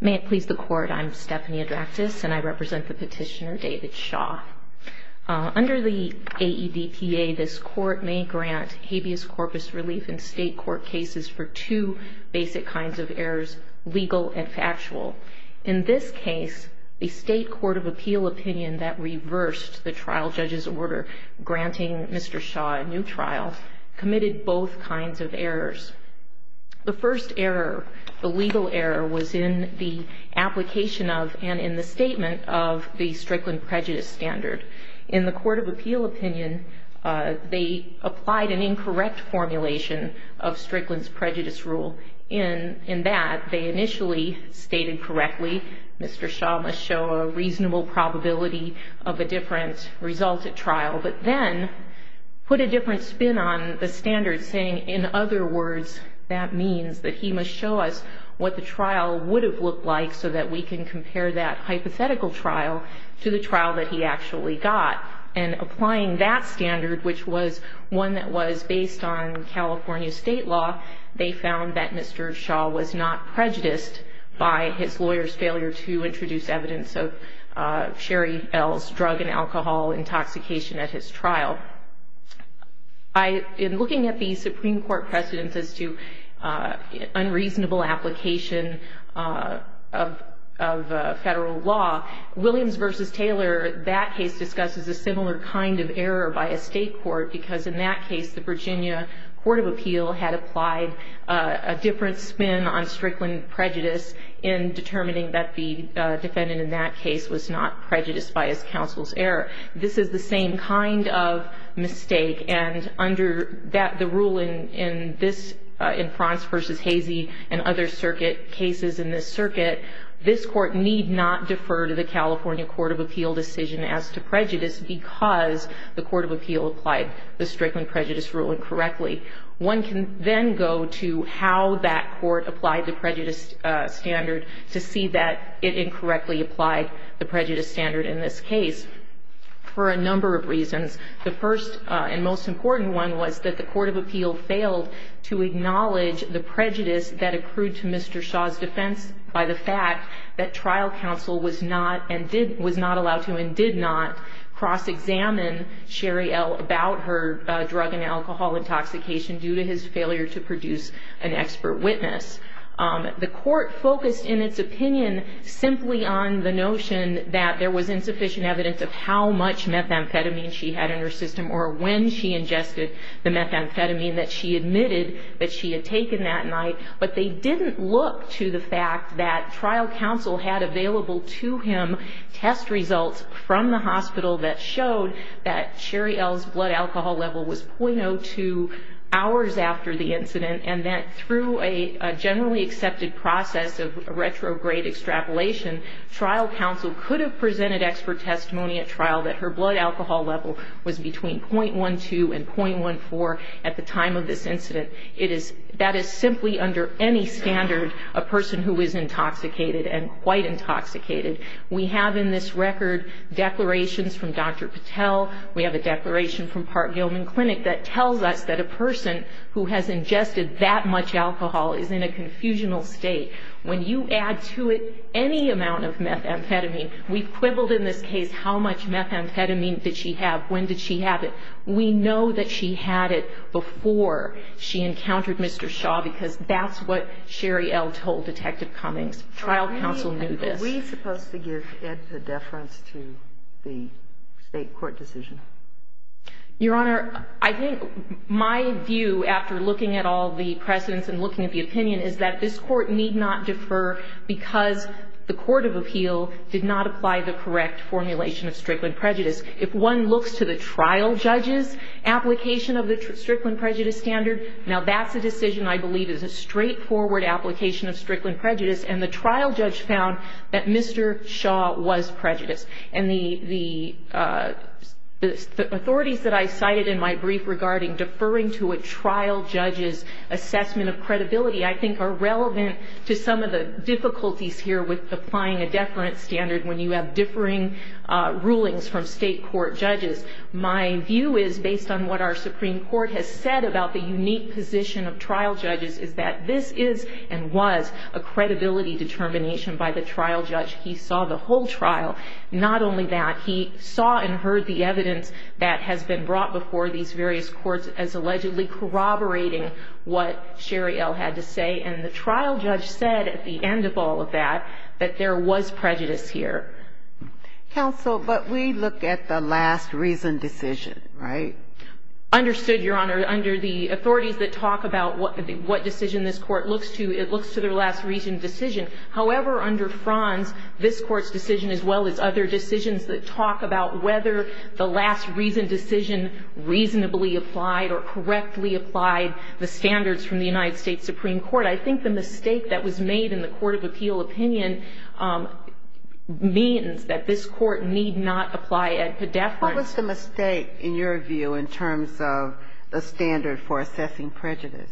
May it please the Court, I'm Stephanie Adraktis, and I represent the petitioner David Shaw. Under the AEDPA, this Court may grant habeas corpus relief in State court cases for two basic kinds of errors, legal and factual. In this case, the State Court of Appeal opinion that reversed the trial judge's order granting Mr. Shaw a new trial committed both kinds of errors. The first error, the legal error, was in the application of and in the statement of the Strickland prejudice standard. In the Court of Appeal opinion, they applied an incorrect formulation of Strickland's prejudice rule. In that, they initially stated correctly, Mr. Shaw must show a reasonable probability of a different result at trial, but then put a different spin on the standard saying, in other words, that means that he must show us what the trial would have looked like so that we can compare that hypothetical trial to the trial that he actually got. And applying that standard, which was one that was based on California State law, they found that Mr. Shaw was not prejudiced by his lawyer's failure to introduce evidence of Sherry Bell's drug and alcohol intoxication at his trial. In looking at the Supreme Court precedents as to unreasonable application of Federal law, Williams v. Taylor, that case discusses a similar kind of error by a State court, because in that case the Virginia Court of Appeal had applied a different spin on Strickland prejudice in determining that the defendant in that case was not prejudiced by his counsel's error. This is the same kind of mistake. And under the rule in France v. Hazey and other cases in this circuit, this court need not defer to the California Court of Appeal decision as to prejudice because the Court of Appeal applied the Strickland prejudice rule incorrectly. One can then go to how that court applied the prejudice standard to see that it incorrectly applied the prejudice standard in this case. For a number of reasons. The first and most important one was that the Court of Appeal failed to acknowledge the prejudice that accrued to Mr. Shaw's defense by the fact that trial counsel was not allowed to and did not cross-examine Sherry L. about her drug and alcohol intoxication due to his failure to produce an expert witness. The court focused in its opinion simply on the notion that there was insufficient evidence of how much methamphetamine she had in her system or when she ingested the methamphetamine that she admitted that she had taken that night. But they didn't look to the fact that trial counsel had available to him test results from the hospital that showed that Sherry L.'s blood alcohol level was .02 hours after the incident and that through a generally accepted process of retrograde extrapolation, trial counsel could have presented expert testimony at trial that her blood alcohol level was between .12 and .14 at the time of this incident. That is simply under any standard a person who is intoxicated and quite intoxicated. We have in this record declarations from Dr. Patel. We have a declaration from Park-Gilman Clinic that tells us that a person who has ingested that much alcohol is in a confusional state. When you add to it any amount of methamphetamine, we've quibbled in this case how much methamphetamine did she have, when did she have it. We know that she had it before she encountered Mr. Shaw because that's what Sherry L. told Detective Cummings. Trial counsel knew this. Sotomayor, are we supposed to give ed to deference to the State court decision? Your Honor, I think my view, after looking at all the precedents and looking at the opinion, is that this Court need not defer because the court of appeal did not apply the correct formulation of Strickland prejudice. If one looks to the trial judge's application of the Strickland prejudice standard, now that's a decision I believe is a straightforward application of Strickland prejudice, and the trial judge found that Mr. Shaw was prejudiced. And the authorities that I cited in my brief regarding deferring to a trial judge's assessment of credibility, I think are relevant to some of the difficulties here with applying a deference standard when you have differing rulings from State court judges. My view is, based on what our Supreme Court has said about the unique position of trial judges, is that this is and was a credibility determination by the trial judge. He saw the whole trial. Not only that, he saw and heard the evidence that has been brought before these various courts as allegedly corroborating what Sherry L. had to say, and the trial judge said at the end of all of that that there was prejudice here. Counsel, but we look at the last reason decision, right? Understood, Your Honor. Under the authorities that talk about what decision this Court looks to, it looks to their last reason decision. However, under Franz, this Court's decision, as well as other decisions that talk about whether the last reason decision reasonably applied or correctly applied the standards from the United States Supreme Court, I think the mistake that was made in the court of appeal opinion means that this Court need not apply a deference. What was the mistake, in your view, in terms of the standard for assessing prejudice?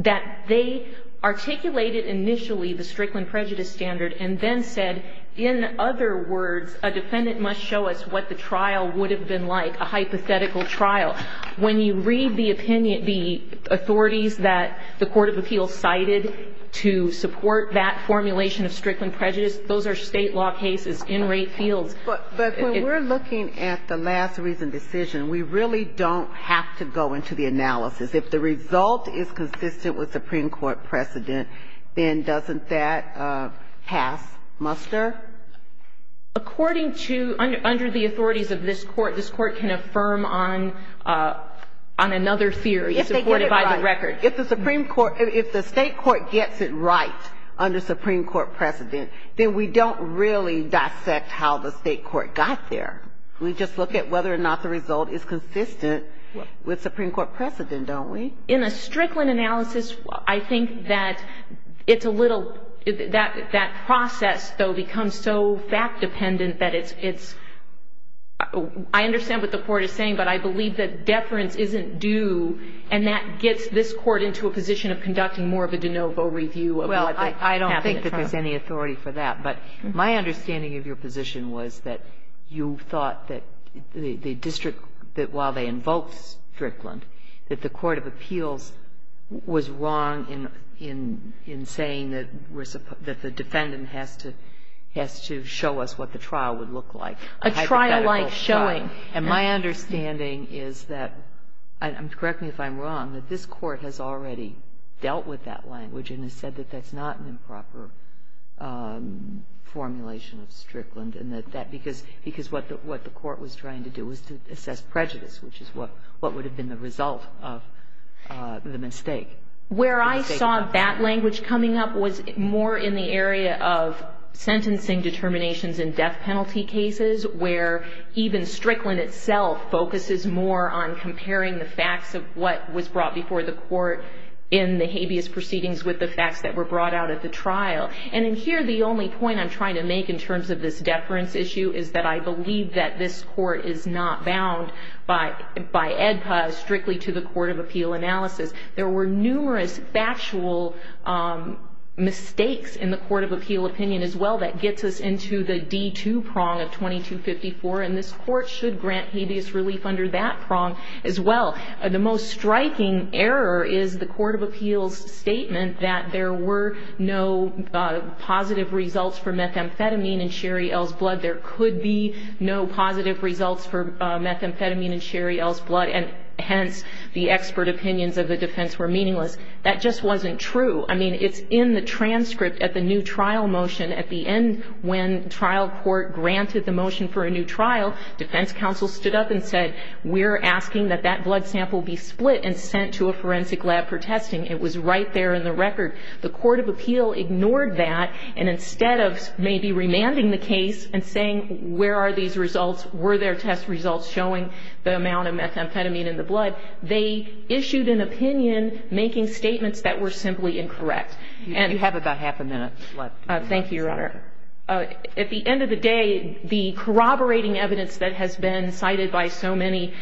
That they articulated initially the Strickland prejudice standard and then said, in other words, a defendant must show us what the trial would have been like, a hypothetical trial. When you read the opinion, the authorities that the court of appeal cited to support that formulation of Strickland prejudice, those are State law cases in rape fields. But when we're looking at the last reason decision, we really don't have to go into the analysis. If the result is consistent with Supreme Court precedent, then doesn't that pass muster? According to, under the authorities of this Court, this Court can affirm on another theory supported by the record. If they get it right. If the Supreme Court, if the State court gets it right under Supreme Court precedent, then we don't really dissect how the State court got there. We just look at whether or not the result is consistent with Supreme Court precedent, don't we? In a Strickland analysis, I think that it's a little, that process, though, becomes so fact-dependent that it's, I understand what the Court is saying, but I believe that deference isn't due, and that gets this Court into a position of conducting more of a de novo review of what happened. Well, I don't think that there's any authority for that. But my understanding of your position was that you thought that the district, that while they invoked Strickland, that the court of appeals was wrong in saying that the defendant has to show us what the trial would look like. A trial-like showing. And my understanding is that, correct me if I'm wrong, that this Court has already dealt with that language and has said that that's not an improper formulation of Strickland, because what the Court was trying to do was to assess prejudice, which is what would have been the result of the mistake. Where I saw that language coming up was more in the area of sentencing determinations in death penalty cases, where even Strickland itself focuses more on comparing the facts of what was brought before the Court in the habeas proceedings with the facts that were brought out at the trial. And in here, the only point I'm trying to make in terms of this deference issue is that I believe that this Court is not bound by EDPA strictly to the court of appeal analysis. There were numerous factual mistakes in the court of appeal opinion as well that gets us into the D2 prong of 2254, and this Court should grant habeas relief under that prong as well. The most striking error is the court of appeals statement that there were no positive results for methamphetamine in Sherry L's blood. There could be no positive results for methamphetamine in Sherry L's blood, and hence the expert opinions of the defense were meaningless. That just wasn't true. I mean, it's in the transcript at the new trial motion. At the end, when trial court granted the motion for a new trial, defense counsel stood up and said, we're asking that that blood sample be split and sent to a forensic lab for testing. It was right there in the record. The court of appeal ignored that, and instead of maybe remanding the case and saying, where are these results, were there test results showing the amount of methamphetamine in the blood, they issued an opinion making statements that were simply incorrect. You have about half a minute left. Thank you, Your Honor. At the end of the day, the corroborating evidence that has been cited by so many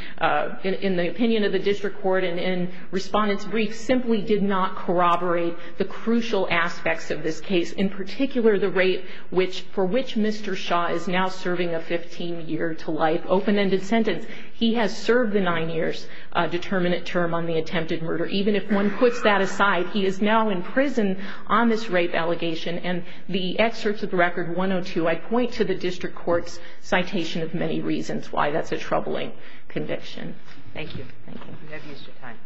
in the opinion of the district court and in respondents' briefs simply did not corroborate the crucial aspects of this case, in particular the rate for which Mr. Shaw is now serving a 15-year-to-life open-ended sentence. He has served the nine years determinant term on the attempted murder. Even if one puts that aside, he is now in prison on this rape allegation, and the excerpts of the Record 102, I point to the district court's citation of many reasons why that's a troubling conviction. Thank you. We have used your time.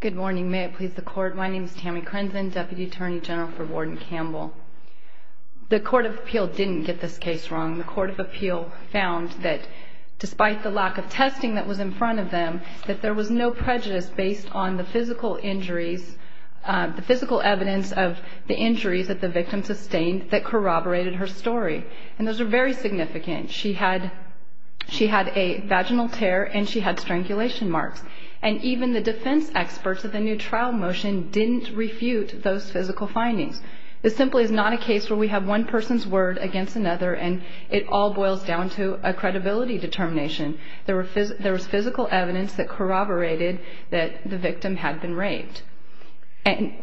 Good morning. May it please the Court, my name is Tammy Crenson, Deputy Attorney General for Warden Campbell. The court of appeal didn't get this case wrong. The court of appeal found that despite the lack of testing that was in front of them, that there was no prejudice based on the physical injuries, the physical evidence of the injuries that the victim sustained that corroborated her story, and those are very significant. She had a vaginal tear and she had strangulation marks, and even the defense experts of the new trial motion didn't refute those physical findings. This simply is not a case where we have one person's word against another and it all boils down to a credibility determination. There was physical evidence that corroborated that the victim had been raped.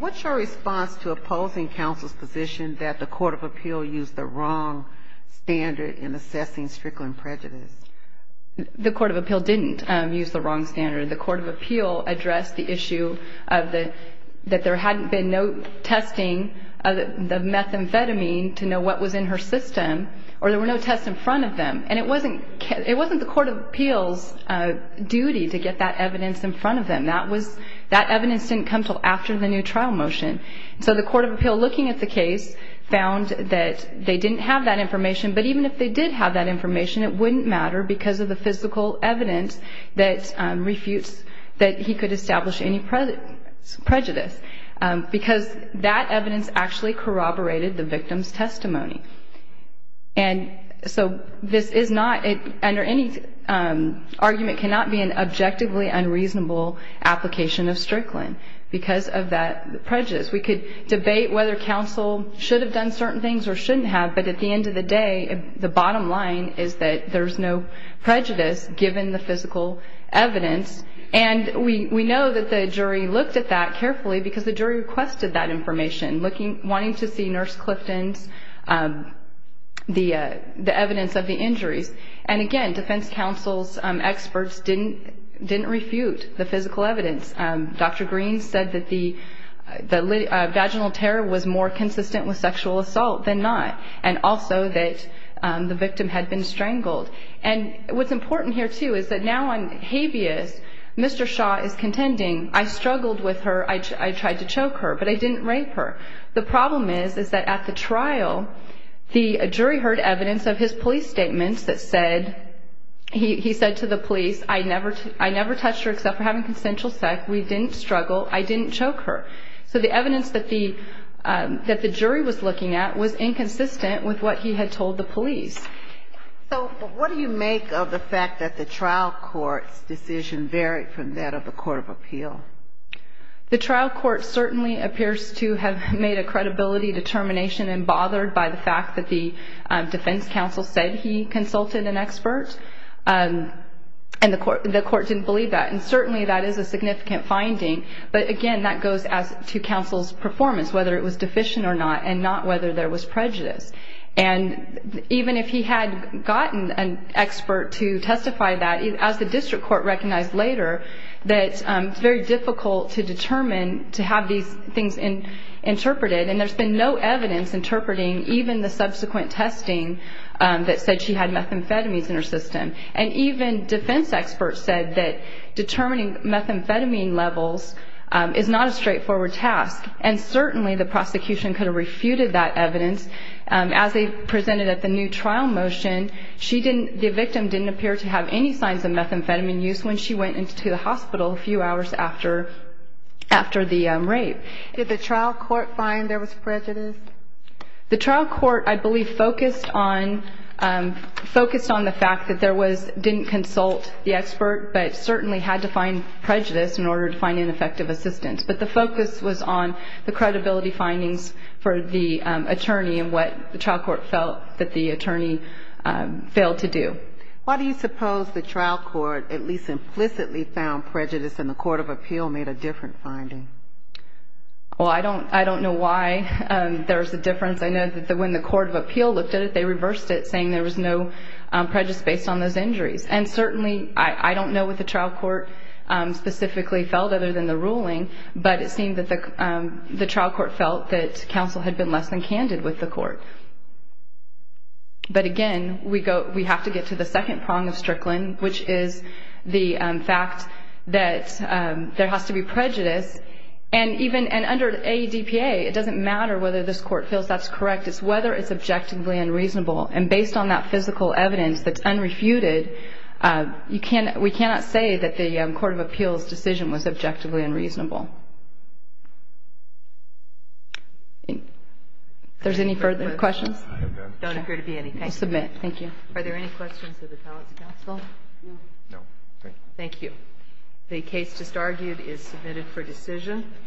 What's your response to opposing counsel's position that the court of appeal used the wrong standard in assessing strickling prejudice? The court of appeal didn't use the wrong standard. The court of appeal addressed the issue that there hadn't been no testing of the methamphetamine to know what was in her system, or there were no tests in front of them, and it wasn't the court of appeal's duty to get that evidence in front of them. That evidence didn't come until after the new trial motion. So the court of appeal, looking at the case, found that they didn't have that information, but even if they did have that information, it wouldn't matter because of the physical evidence that refutes that he could establish any prejudice because that evidence actually corroborated the victim's testimony. And so this is not, under any argument, cannot be an objectively unreasonable application of strickling because of that prejudice. We could debate whether counsel should have done certain things or shouldn't have, but at the end of the day, the bottom line is that there's no prejudice given the physical evidence. And we know that the jury looked at that carefully because the jury requested that information, wanting to see Nurse Clifton's evidence of the injuries. And again, defense counsel's experts didn't refute the physical evidence. Dr. Green said that the vaginal tear was more consistent with sexual assault than not and also that the victim had been strangled. And what's important here, too, is that now on habeas, Mr. Shaw is contending, I struggled with her, I tried to choke her, but I didn't rape her. The problem is that at the trial, the jury heard evidence of his police statements that said, he said to the police, I never touched her except for having consensual sex. We didn't struggle. I didn't choke her. So the evidence that the jury was looking at was inconsistent with what he had told the police. So what do you make of the fact that the trial court's decision varied from that of the court of appeal? The trial court certainly appears to have made a credibility determination and bothered by the fact that the defense counsel said he consulted an expert. And the court didn't believe that. And certainly that is a significant finding. But, again, that goes to counsel's performance, whether it was deficient or not, and not whether there was prejudice. And even if he had gotten an expert to testify that, as the district court recognized later, that it's very difficult to determine, to have these things interpreted. And there's been no evidence interpreting even the subsequent testing that said she had methamphetamines in her system. And even defense experts said that determining methamphetamine levels is not a straightforward task. And certainly the prosecution could have refuted that evidence. As they presented at the new trial motion, the victim didn't appear to have any signs of methamphetamine use when she went into the hospital a few hours after the rape. Did the trial court find there was prejudice? The trial court, I believe, focused on the fact that there was, didn't consult the expert, but certainly had to find prejudice in order to find ineffective assistance. But the focus was on the credibility findings for the attorney and what the trial court felt that the attorney failed to do. Why do you suppose the trial court at least implicitly found prejudice and the court of appeal made a different finding? Well, I don't know why there's a difference. I know that when the court of appeal looked at it, they reversed it saying there was no prejudice based on those injuries. And certainly I don't know what the trial court specifically felt other than the ruling, but it seemed that the trial court felt that counsel had been less than candid with the court. But again, we have to get to the second prong of Strickland, which is the fact that there has to be prejudice. And even under ADPA, it doesn't matter whether this court feels that's correct. It's whether it's objectively unreasonable. And based on that physical evidence that's unrefuted, we cannot say that the court of appeal's decision was objectively unreasonable. If there's any further questions? I have none. I don't appear to be any. I'll submit. Thank you. Are there any questions of the talents counsel? No. No. Thank you. The case just argued is submitted for decision.